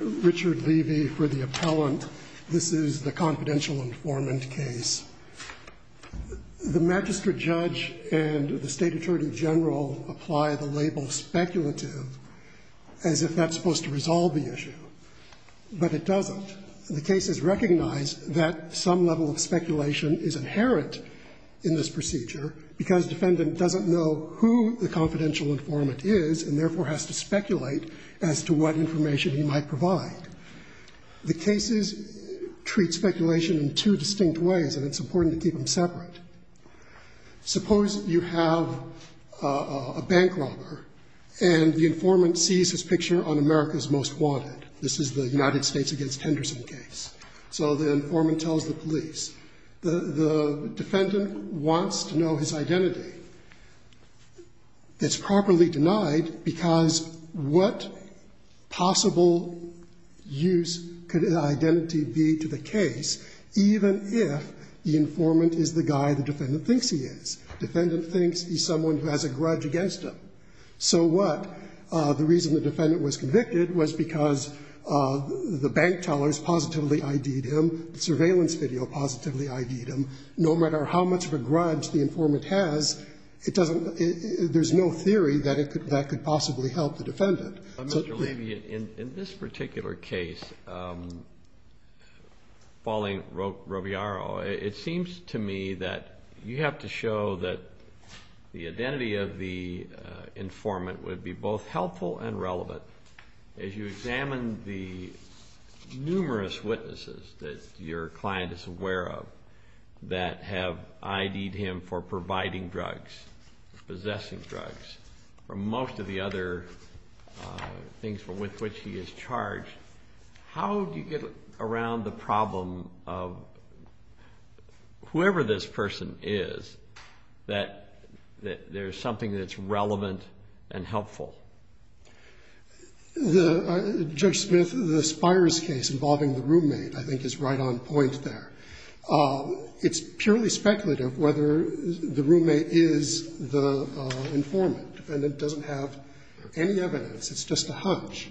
Richard Levy for the appellant. This is the confidential informant case. The magistrate judge and the State Attorney General apply the label speculative as if that's supposed to resolve the issue, but it doesn't. The case has recognized that some level of speculation is inherent in this procedure because defendant doesn't know who the confidential informant is and therefore has to speculate as to what information he might provide. The cases treat speculation in two distinct ways and it's important to keep them separate. Suppose you have a bank robber and the informant sees his picture on America's Most Wanted. This is the United States against Henderson case. So the informant tells the police. The defendant wants to know his identity. It's properly denied because what possible use could identity be to the case, even if the informant is the guy the defendant thinks he is? Defendant thinks he's someone who has a grudge against him. So what? The reason the defendant was convicted was because the bank tellers positively ID'd him, the surveillance video positively ID'd him. No matter how much of a grudge the informant has, it doesn't, there's no theory that it could, that could possibly help the defendant. Mr. Levy, in this particular case, following Roviaro, it seems to me that you have to show that the identity of the informant would be both helpful and relevant as you examine the numerous witnesses that your client is aware of that have ID'd him for providing drugs, possessing drugs, or most of the other things with which he is charged. How do you get around the problem of whoever this person is, that there's something that's relevant and helpful? Judge Smith, the Spires case involving the roommate, I think, is right on point there. It's purely speculative whether the roommate is the informant. The defendant doesn't have any evidence. It's just a hunch.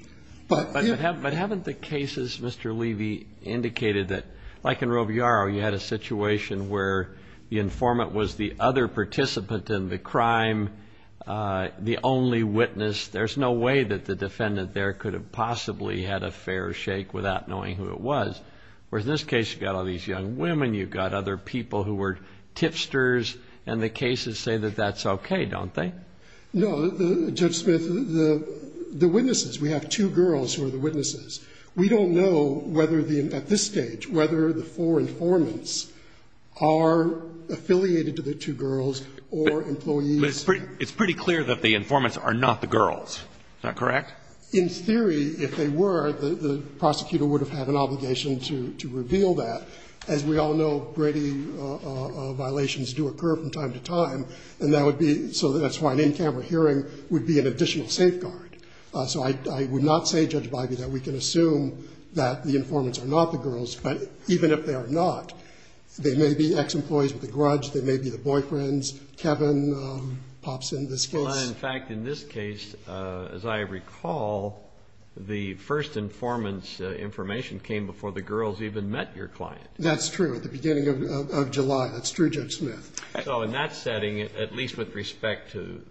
But haven't the cases, Mr. Levy, indicated that, like in Roviaro, you had a situation where the informant was the other participant in the crime, the only witness. There's no way that the defendant there could have possibly had a fair shake without knowing who it was. Where in this case, you've got all these young women, you've got other people who were tipsters, and the cases say that that's okay, don't they? No. Judge Smith, the witnesses, we have two girls who are the witnesses. We don't know whether, at this stage, whether the four informants are affiliated to the two girls or employees. But it's pretty clear that the informants are not the girls. Is that correct? In theory, if they were, the prosecutor would have had an obligation to reveal that. As we all know, Brady violations do occur from time to time, and that would be so that's why an in-camera hearing would be an additional safeguard. So I would not say, Judge Bybee, that we can assume that the informants are not the girls, but even if they are not, they may be ex-employees with the grudge, they may be the boyfriends. Kevin pops in this case. In fact, in this case, as I recall, the first informant's information came before the girls even met your client. That's true. At the beginning of July. That's true, Judge Smith. So in that setting, at least with respect to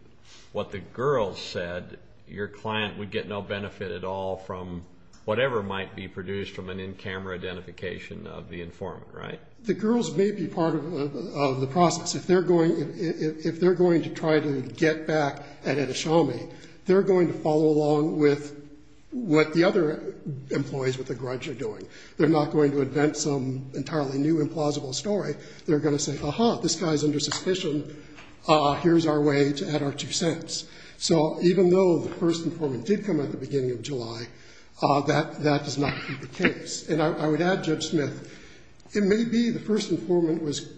what the girls said, your client would get no benefit at all from whatever might be produced from an in-camera identification of the informant, right? The girls may be part of the process. If they're going to try to get back at Edashami, they're going to follow along with what the other employees with the grudge are doing. They're not going to invent some entirely new implausible story. They're going to say, Aha, this guy's under suspicion. Here's our way to add our two cents. So even though the information came at the beginning of July, that does not keep the case. And I would add, Judge Smith, it may be the first informant was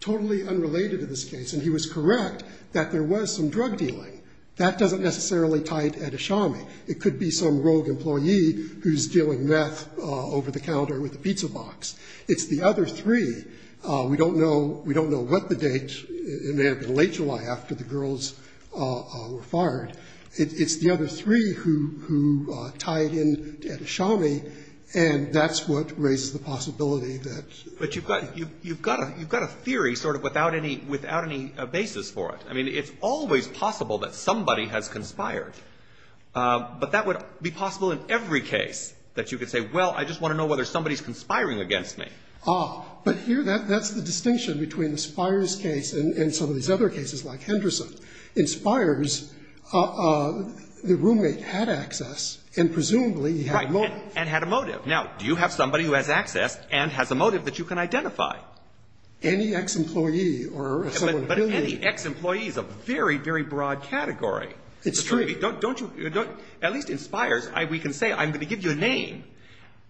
totally unrelated to this case, and he was correct that there was some drug dealing. That doesn't necessarily tie it to Edashami. It could be some rogue employee who's dealing meth over the counter with a pizza box. It's the other three. We don't know what the date. It may have been late July after the girls were fired. It's the other three who tied in Edashami, and that's what raised the possibility that But you've got a theory sort of without any basis for it. I mean, it's always possible that somebody has conspired. But that would be possible in every case that you could say, Well, I just want to know whether somebody's conspiring against me. But here, that's the distinction between the Spires case and some of these other cases like Henderson. In Spires, the roommate had access, and presumably he had a motive. Now, do you have somebody who has access and has a motive that you can identify? Any ex-employee. But any ex-employee is a very, very broad category. It's true. At least in Spires, we can say, I'm going to give you a name.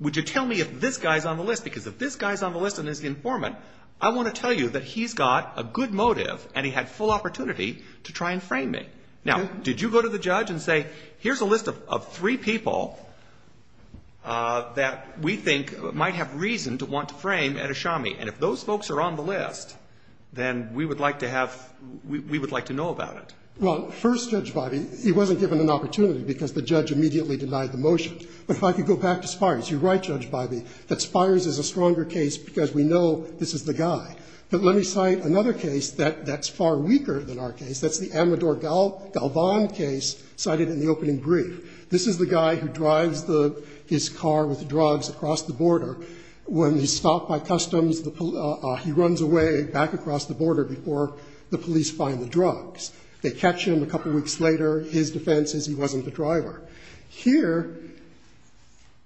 Would you tell me if this guy's on the list? Because if this guy's on the list and is the informant, I want to tell you that he's got a good motive, and he had full opportunity to try and frame me. Now, did you go to the judge and say, Here's a list of three people that we think might have reason to want to frame Edashami. And if those folks are on the list, then we would like to have, we would like to know about it. Well, first, Judge Bybee, he wasn't given an opportunity because the judge immediately denied the motion. But if I could go back to Spires, you're right, Judge Bybee, that Spires is a stronger case because we know this is the guy. But let me cite another case that's far weaker than our case. That's the Amador Galvan case cited in the opening brief. This is the guy who drives his car with drugs across the border. When he's stopped by customs, he runs away back across the border before the police find the drugs. They catch him a couple weeks later. His defense is he wasn't the driver. Here,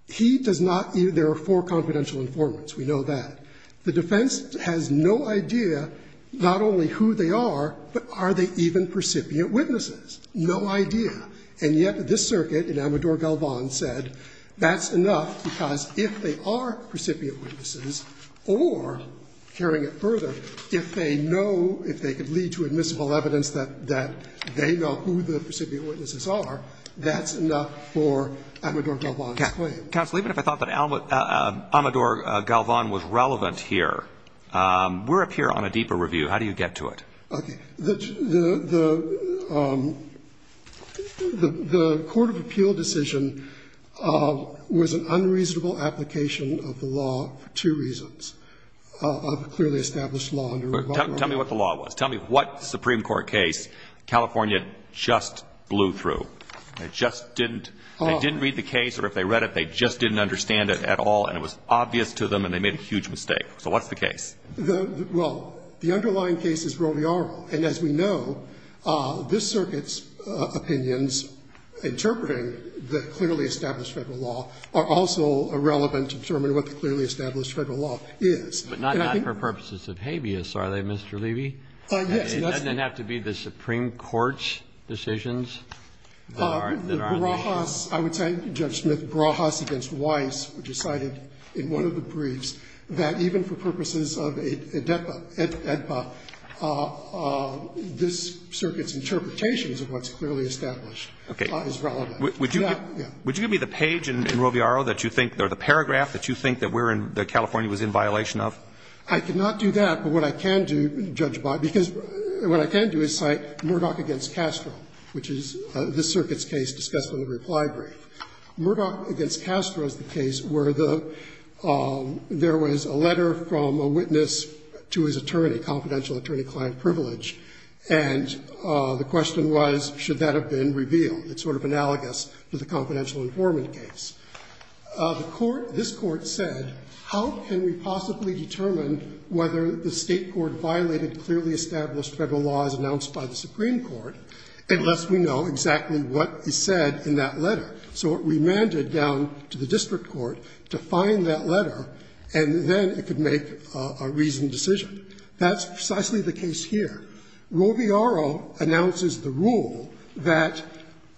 he does not, there are four confidential informants. We know that. The defense has no idea not only who they are, but are they even precipient witnesses? No idea. And yet this circuit in Amador Galvan said that's enough because if they are precipient witnesses or, carrying it further, if they know, if they can lead to admissible evidence that they know who the precipient witnesses are, that's enough for Amador Galvan's claim. Counsel, even if I thought that Amador Galvan was relevant here, we're up here on a deeper review. How do you get to it? Okay. The Court of Appeal decision was an unreasonable application of the law for two reasons. A clearly established law under Obama. Tell me what the law was. Tell me what Supreme Court case California just blew through. They just didn't, they didn't read the case, or if they read it, they just didn't understand it at all, and it was obvious to them, and they made a huge mistake. So what's the case? Well, the underlying case is Rovial. And as we know, this circuit's opinions interpreting the clearly established Federal law are also irrelevant to determine what the clearly established Federal law is. But not for purposes of habeas, are they, Mr. Levy? Yes. Doesn't it have to be the Supreme Court's decisions that are on the issue? I would say, Judge Smith, Brahas v. Weiss decided in one of the briefs that even for purposes of AEDPA, this circuit's interpretations of what's clearly established is relevant. Okay. Would you give me the page in Rovial that you think, or the paragraph that you think that we're in, that California was in violation of? I cannot do that. But what I can do, Judge Breyer, because what I can do is cite Murdoch v. Castro, which is this circuit's case discussed in the reply brief. Murdoch v. Castro is the case where there was a letter from a witness to his attorney, confidential attorney-client privilege, and the question was, should that have been revealed? It's sort of analogous to the confidential informant case. This Court said, how can we possibly determine whether the State court violated clearly established Federal laws announced by the Supreme Court unless we know exactly what is said in that letter? So it remanded down to the district court to find that letter, and then it could make a reasoned decision. That's precisely the case here. Roviaro announces the rule that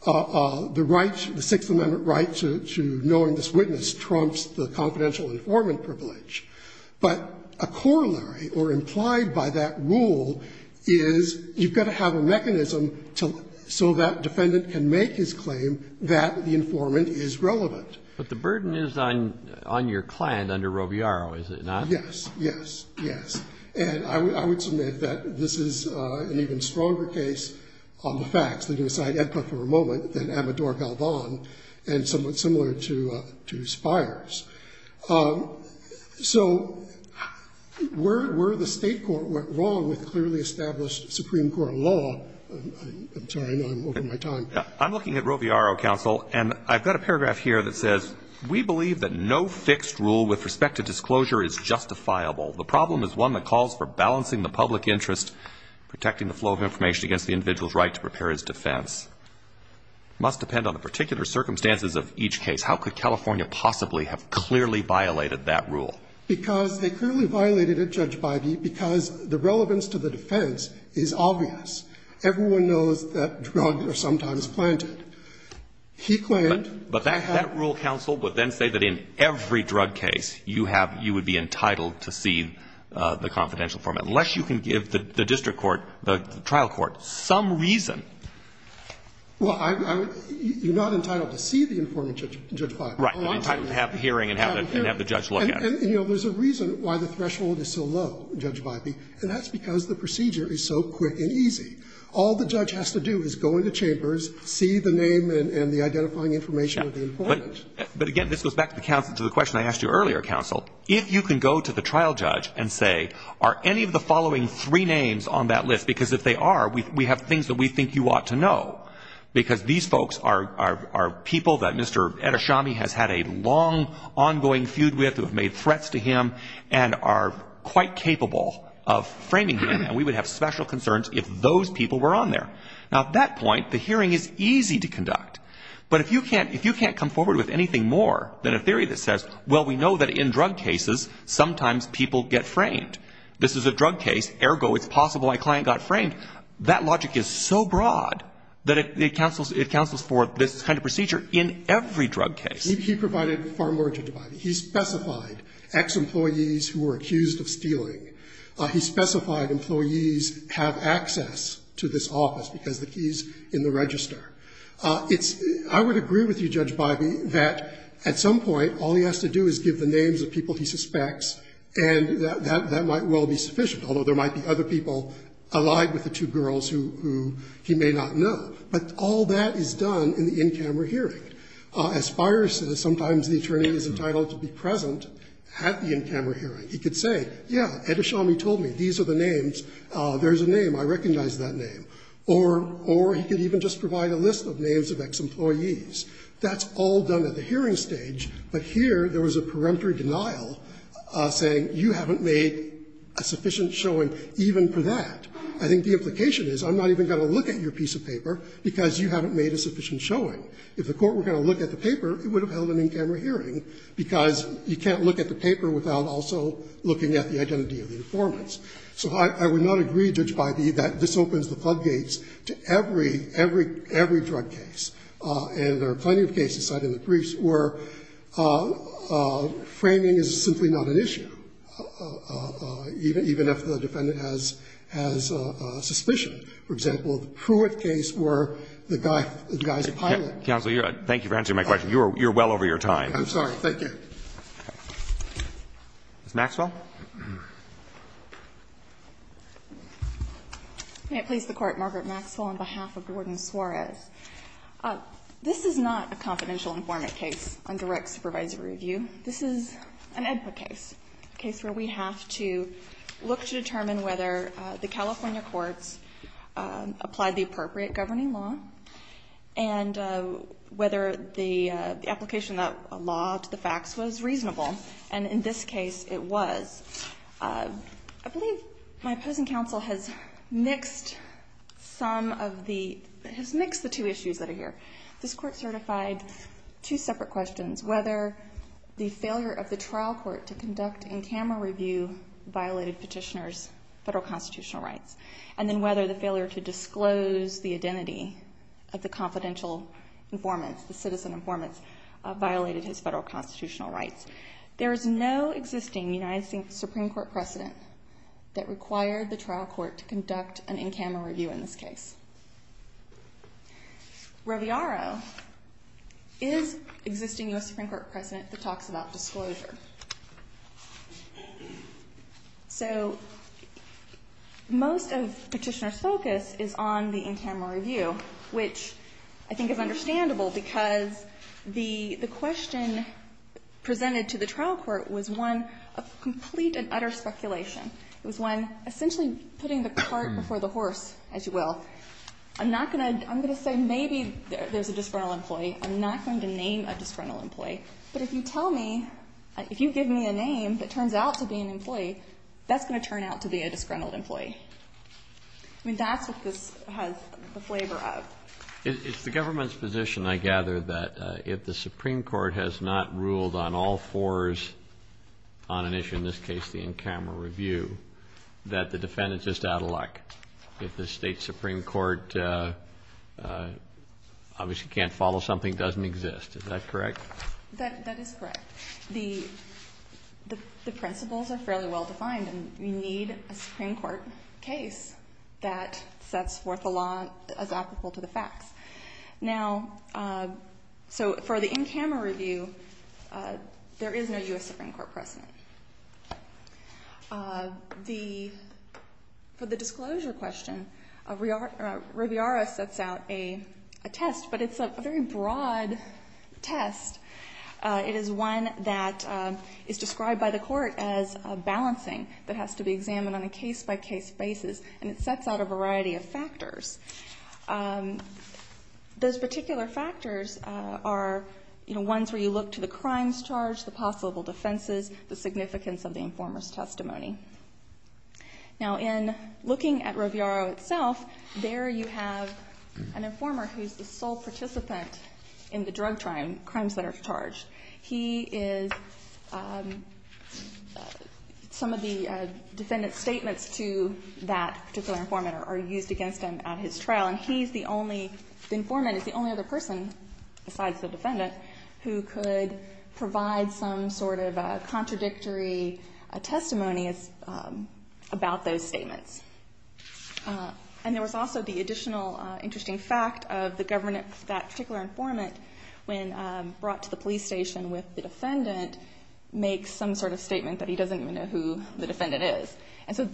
the right, the Sixth Amendment right to knowing this witness trumps the confidential informant privilege. But a corollary, or implied by that rule, is you've got to have a mechanism so that defendant can make his claim that the informant is relevant. But the burden is on your client under Roviaro, is it not? Yes, yes, yes. And I would submit that this is an even stronger case on the facts. Let me aside Edpun for a moment, than Amador-Galvan, and somewhat similar to Spires. So were the State court wrong with clearly established Supreme Court law? I'm sorry, I know I'm over my time. I'm looking at Roviaro, counsel, and I've got a paragraph here that says, we believe that no fixed rule with respect to disclosure is justifiable. The problem is one that calls for balancing the public interest, protecting the flow of information against the individual's right to prepare his defense. It must depend on the particular circumstances of each case. How could California possibly have clearly violated that rule? Because they clearly violated it, Judge Bidey, because the relevance to the defense is obvious. Everyone knows that drugs are sometimes planted. He claimed that that had to happen. But that rule, counsel, would then say that in every drug case, you would be entitled to see the confidential form, unless you can give the district court, the trial court, some reason. Well, you're not entitled to see the informant, Judge Bidey. Right. You're entitled to have a hearing and have the judge look at it. And there's a reason why the threshold is so low, Judge Bidey, and that's because the procedure is so quick and easy. All the judge has to do is go into chambers, see the name and the identifying information of the informant. But again, this goes back to the question I asked you earlier, counsel. If you can go to the trial judge and say, are any of the following three names on that list? Because if they are, we have things that we think you ought to know. Because these folks are people that Mr. Edashami has had a long, ongoing feud with, who have made threats to him, and are quite capable of framing him. And we would have special concerns if those people were on there. Now, at that point, the hearing is easy to conduct. But if you can't come forward with anything more than a theory that says, well, we know that in drug cases, sometimes people get framed. This is a drug case. Ergo, it's possible my client got framed. That logic is so broad that it counsels for this kind of procedure in every drug case. He provided far more to Judge Bidey. He specified ex-employees who were accused of stealing. He specified employees have access to this office because the key's in the register. It's – I would agree with you, Judge Bidey, that at some point, all he has to do is give the names of people he suspects, and that might well be sufficient. Although there might be other people allied with the two girls who he may not know. But all that is done in the in-camera hearing. As Fires says, sometimes the attorney is entitled to be present at the in-camera hearing. He could say, yeah, Edashami told me these are the names. There's a name. I recognize that name. Or he could even just provide a list of names of ex-employees. That's all done at the hearing stage, but here there was a peremptory denial saying you haven't made a sufficient showing even for that. I think the implication is I'm not even going to look at your piece of paper because you haven't made a sufficient showing. If the court were going to look at the paper, it would have held an in-camera hearing because you can't look at the paper without also looking at the identity of the informants. So I would not agree, Judge Bidey, that this opens the floodgates to every, every drug case. And there are plenty of cases cited in the briefs where framing is simply not an issue, even if the defendant has suspicion. For example, the Pruitt case where the guy's a pilot. Roberts. Thank you for answering my question. You're well over your time. I'm sorry. Thank you. Ms. Maxwell. May it please the Court, Margaret Maxwell, on behalf of Gordon Suarez. This is not a confidential informant case on direct supervisory review. This is an EDPA case, a case where we have to look to determine whether the California courts applied the appropriate governing law and whether the application of a law to the facts was reasonable. And in this case, it was. I believe my opposing counsel has mixed some of the, has mixed the two issues that are here. This Court certified two separate questions, whether the failure of the trial court to conduct in-camera review violated petitioner's federal constitutional rights. And then whether the failure to disclose the identity of the confidential informant, the citizen informant, violated his federal constitutional rights. There is no existing United States Supreme Court precedent that required the trial court to conduct an in-camera review in this case. Roviaro is existing U.S. Supreme Court precedent that talks about disclosure. So most of petitioner's focus is on the in-camera review, which I think is understandable because the question presented to the trial court was one of complete and utter speculation. It was one essentially putting the cart before the horse, as you will. I'm not going to, I'm going to say maybe there's a disgruntled employee. I'm not going to name a disgruntled employee. But if you tell me, if you give me a name that turns out to be an employee, that's going to turn out to be a disgruntled employee. I mean, that's what this has the flavor of. It's the government's position, I gather, that if the Supreme Court has not ruled on all fours on an issue, in this case the in-camera review, that the defendant's just out of luck. If the state Supreme Court obviously can't follow something, it doesn't exist. Is that correct? That is correct. The principles are fairly well defined. We need a Supreme Court case that sets forth a law as applicable to the facts. Now, so for the in-camera review, there is no U.S. Supreme Court precedent. The, for the disclosure question, Riviera sets out a test, but it's a very broad test. It is one that is described by the court as a balancing that has to be examined on a case-by-case basis, and it sets out a variety of factors. Those particular factors are, you know, ones where you look to the crimes charged, the possible defenses, the significance of the informer's testimony. Now, in looking at Riviera itself, there you have an informer who's the sole participant in the drug crime, crimes that are charged. He is, some of the defendant's statements to that particular informant are used against him at his trial, and he's the only, the informant is the only other person, besides the defendant, who could provide some sort of contradictory testimony about those statements. And there was also the additional interesting fact of the government, that particular informant, when brought to the police station with the defendant, makes some sort of statement that he doesn't even know who the defendant is. And so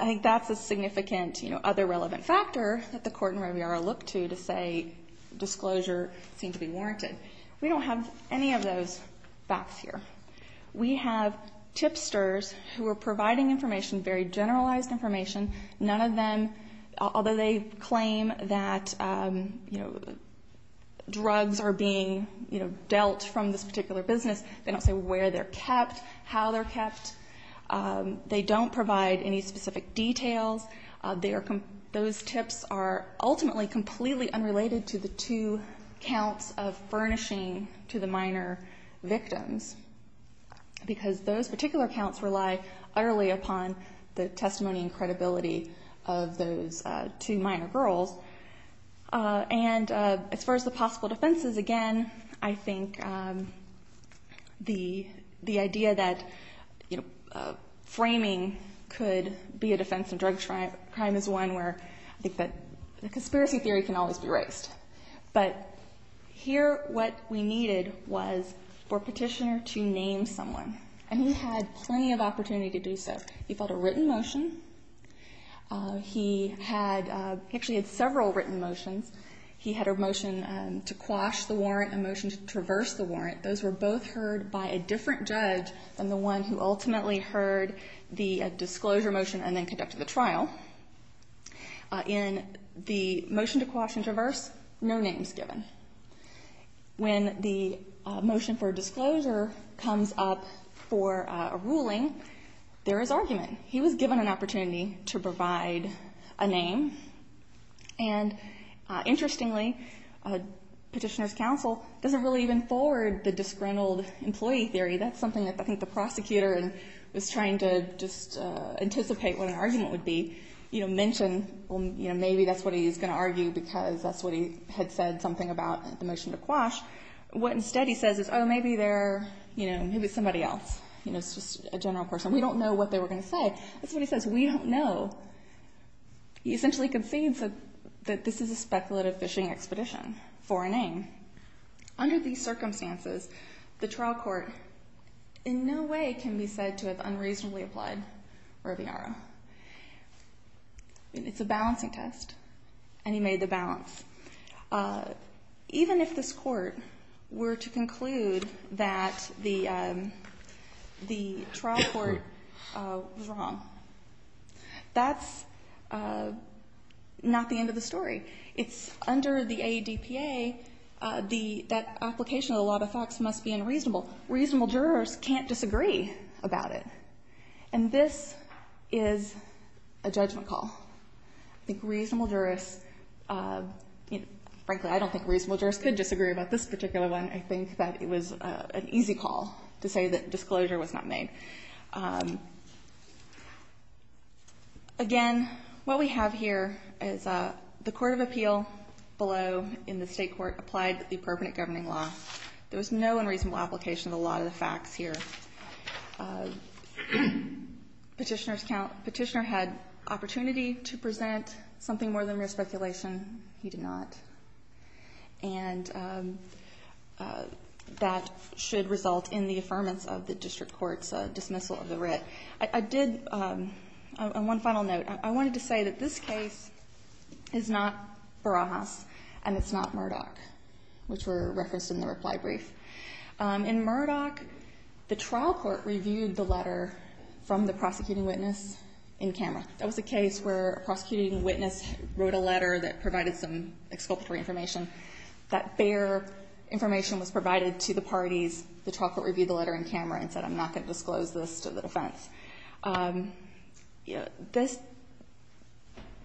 I think that's a significant, you know, other relevant factor that the court and Riviera look to to say disclosure seems to be warranted. We don't have any of those facts here. We have tipsters who are providing information, very generalized information. None of them, although they claim that, you know, drugs are being, you know, dealt from this particular business, they don't say where they're kept, how they're kept. They don't provide any specific details. They are, those tips are ultimately completely unrelated to the two counts of furnishing to the minor victims, because those particular counts rely utterly upon the testimony and credibility of those two minor girls. And as far as the possible defenses, again, I think the idea that, you know, framing could be a defense in drug crime is one where I think that the conspiracy theory can always be raised. But here what we needed was for Petitioner to name someone. And he had plenty of opportunity to do so. He filed a written motion. He had, he actually had several written motions. He had a motion to quash the warrant, a motion to traverse the warrant. Those were both heard by a different judge than the one who ultimately heard the disclosure motion and then conducted the trial. In the motion to quash and traverse, no name is given. When the motion for disclosure comes up for a ruling, there is argument. He was given an opportunity to provide a name. And interestingly, Petitioner's counsel doesn't really even forward the disgruntled employee theory. That's something that I think the prosecutor was trying to just anticipate what an employee, you know, mention, you know, maybe that's what he's going to argue because that's what he had said something about the motion to quash. What instead he says is, oh, maybe they're, you know, maybe it's somebody else. You know, it's just a general person. We don't know what they were going to say. That's what he says, we don't know. He essentially concedes that this is a speculative fishing expedition for a name. Under these circumstances, the trial court in no way can be said to have unreasonably applied Riviera. It's a balancing test, and he made the balance. Even if this court were to conclude that the trial court was wrong, that's not the end of the story. It's under the ADPA, that application of the law of effects must be unreasonable. Reasonable jurors can't disagree about it, and this is a judgment call. I think reasonable jurors, you know, frankly, I don't think reasonable jurors could disagree about this particular one. I think that it was an easy call to say that disclosure was not made. Again, what we have here is the court of appeal below in the state court applied the application of the law of the facts here. Petitioner had opportunity to present something more than mere speculation. He did not, and that should result in the affirmance of the district court's dismissal of the writ. I did, on one final note, I wanted to say that this case is not Barajas, and it's not Murdoch, which were referenced in the reply brief. In Murdoch, the trial court reviewed the letter from the prosecuting witness in camera. That was a case where a prosecuting witness wrote a letter that provided some exculpatory information. That bare information was provided to the parties. The trial court reviewed the letter in camera and said, I'm not going to disclose this to the defense.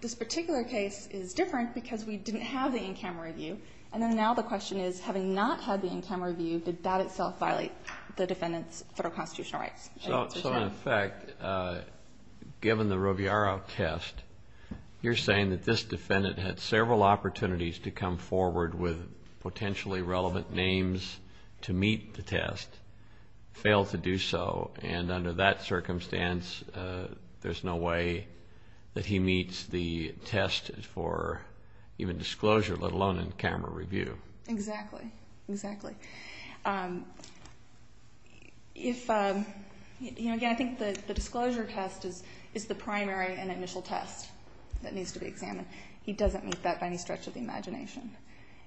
This particular case is different because we didn't have the in-camera review, and then now the question is, having not had the in-camera review, did that itself violate the defendant's federal constitutional rights? So in fact, given the Roviaro test, you're saying that this defendant had several opportunities to come forward with potentially relevant names to meet the test, failed to do so, and under that circumstance, there's no way that he meets the test for even disclosure, let alone in-camera review. Exactly. Exactly. Again, I think the disclosure test is the primary and initial test that needs to be examined. He doesn't meet that by any stretch of the imagination,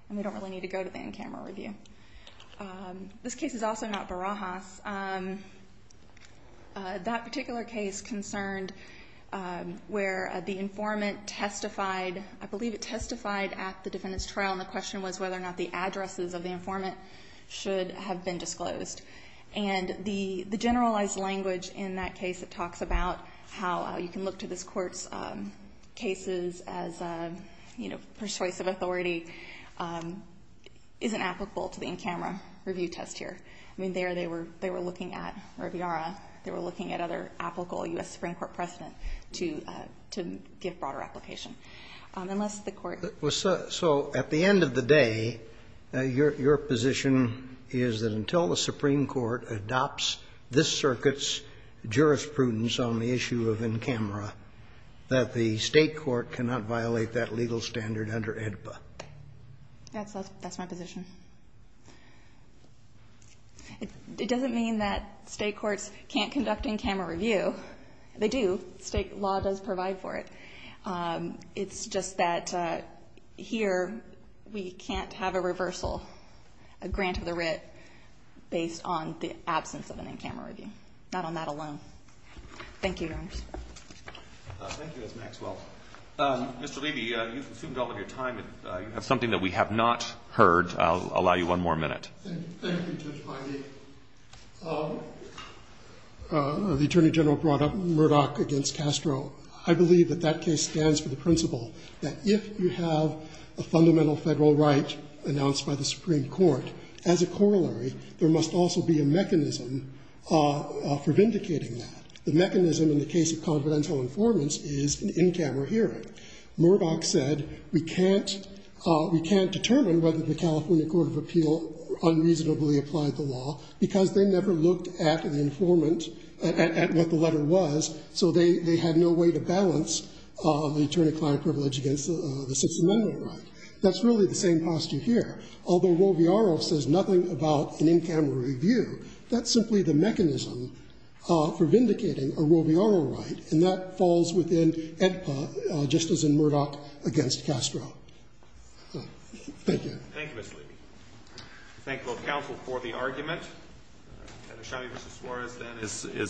and they don't really need to go to the in-camera review. This case is also not Barajas. That particular case concerned where the informant testified, I believe it testified at the defendant's trial, and the question was whether or not the addresses of the informant should have been disclosed. And the generalized language in that case that talks about how you can look to this court's cases as persuasive authority isn't applicable to the in-camera review test here. I mean, there they were looking at Roviaro, they were looking at other applicable U.S. Supreme Court precedent to give broader application. Unless the court... So, at the end of the day, your position is that until the Supreme Court adopts this circuit's jurisprudence on the issue of in-camera, that the state court cannot violate that legal standard under AEDPA. That's my position. It doesn't mean that state courts can't conduct in-camera review. They do. State law does provide for it. It's just that here we can't have a reversal, a grant of the writ, based on the absence of an in-camera review. Not on that alone. Thank you, Your Honor. Thank you, Ms. Maxwell. Mr. Levy, you've consumed all of your time, and you have something that we have not heard. I'll allow you one more minute. Thank you, Judge Levy. The Attorney General brought up Murdoch against Castro. I believe that that case stands for the principle that if you have a fundamental federal right announced by the Supreme Court as a corollary, there must also be a mechanism for vindicating that. The mechanism in the case of confidential informants is an in-camera hearing. Murdoch said we can't determine whether the California Court of Appeal unreasonably applied the law because they never looked at an informant, at what the letter was, so they had no way to balance the attorney-client privilege against the Sixth Amendment right. That's really the same posture here. Although Roviaro says nothing about an in-camera review, that's simply the mechanism for vindicating a Roviaro right, and that falls within AEDPA just as in Murdoch against Castro. Thank you. Thank you, Mr. Levy. Thank both counsel for the argument. And Ashanti v. Suarez then is submitted.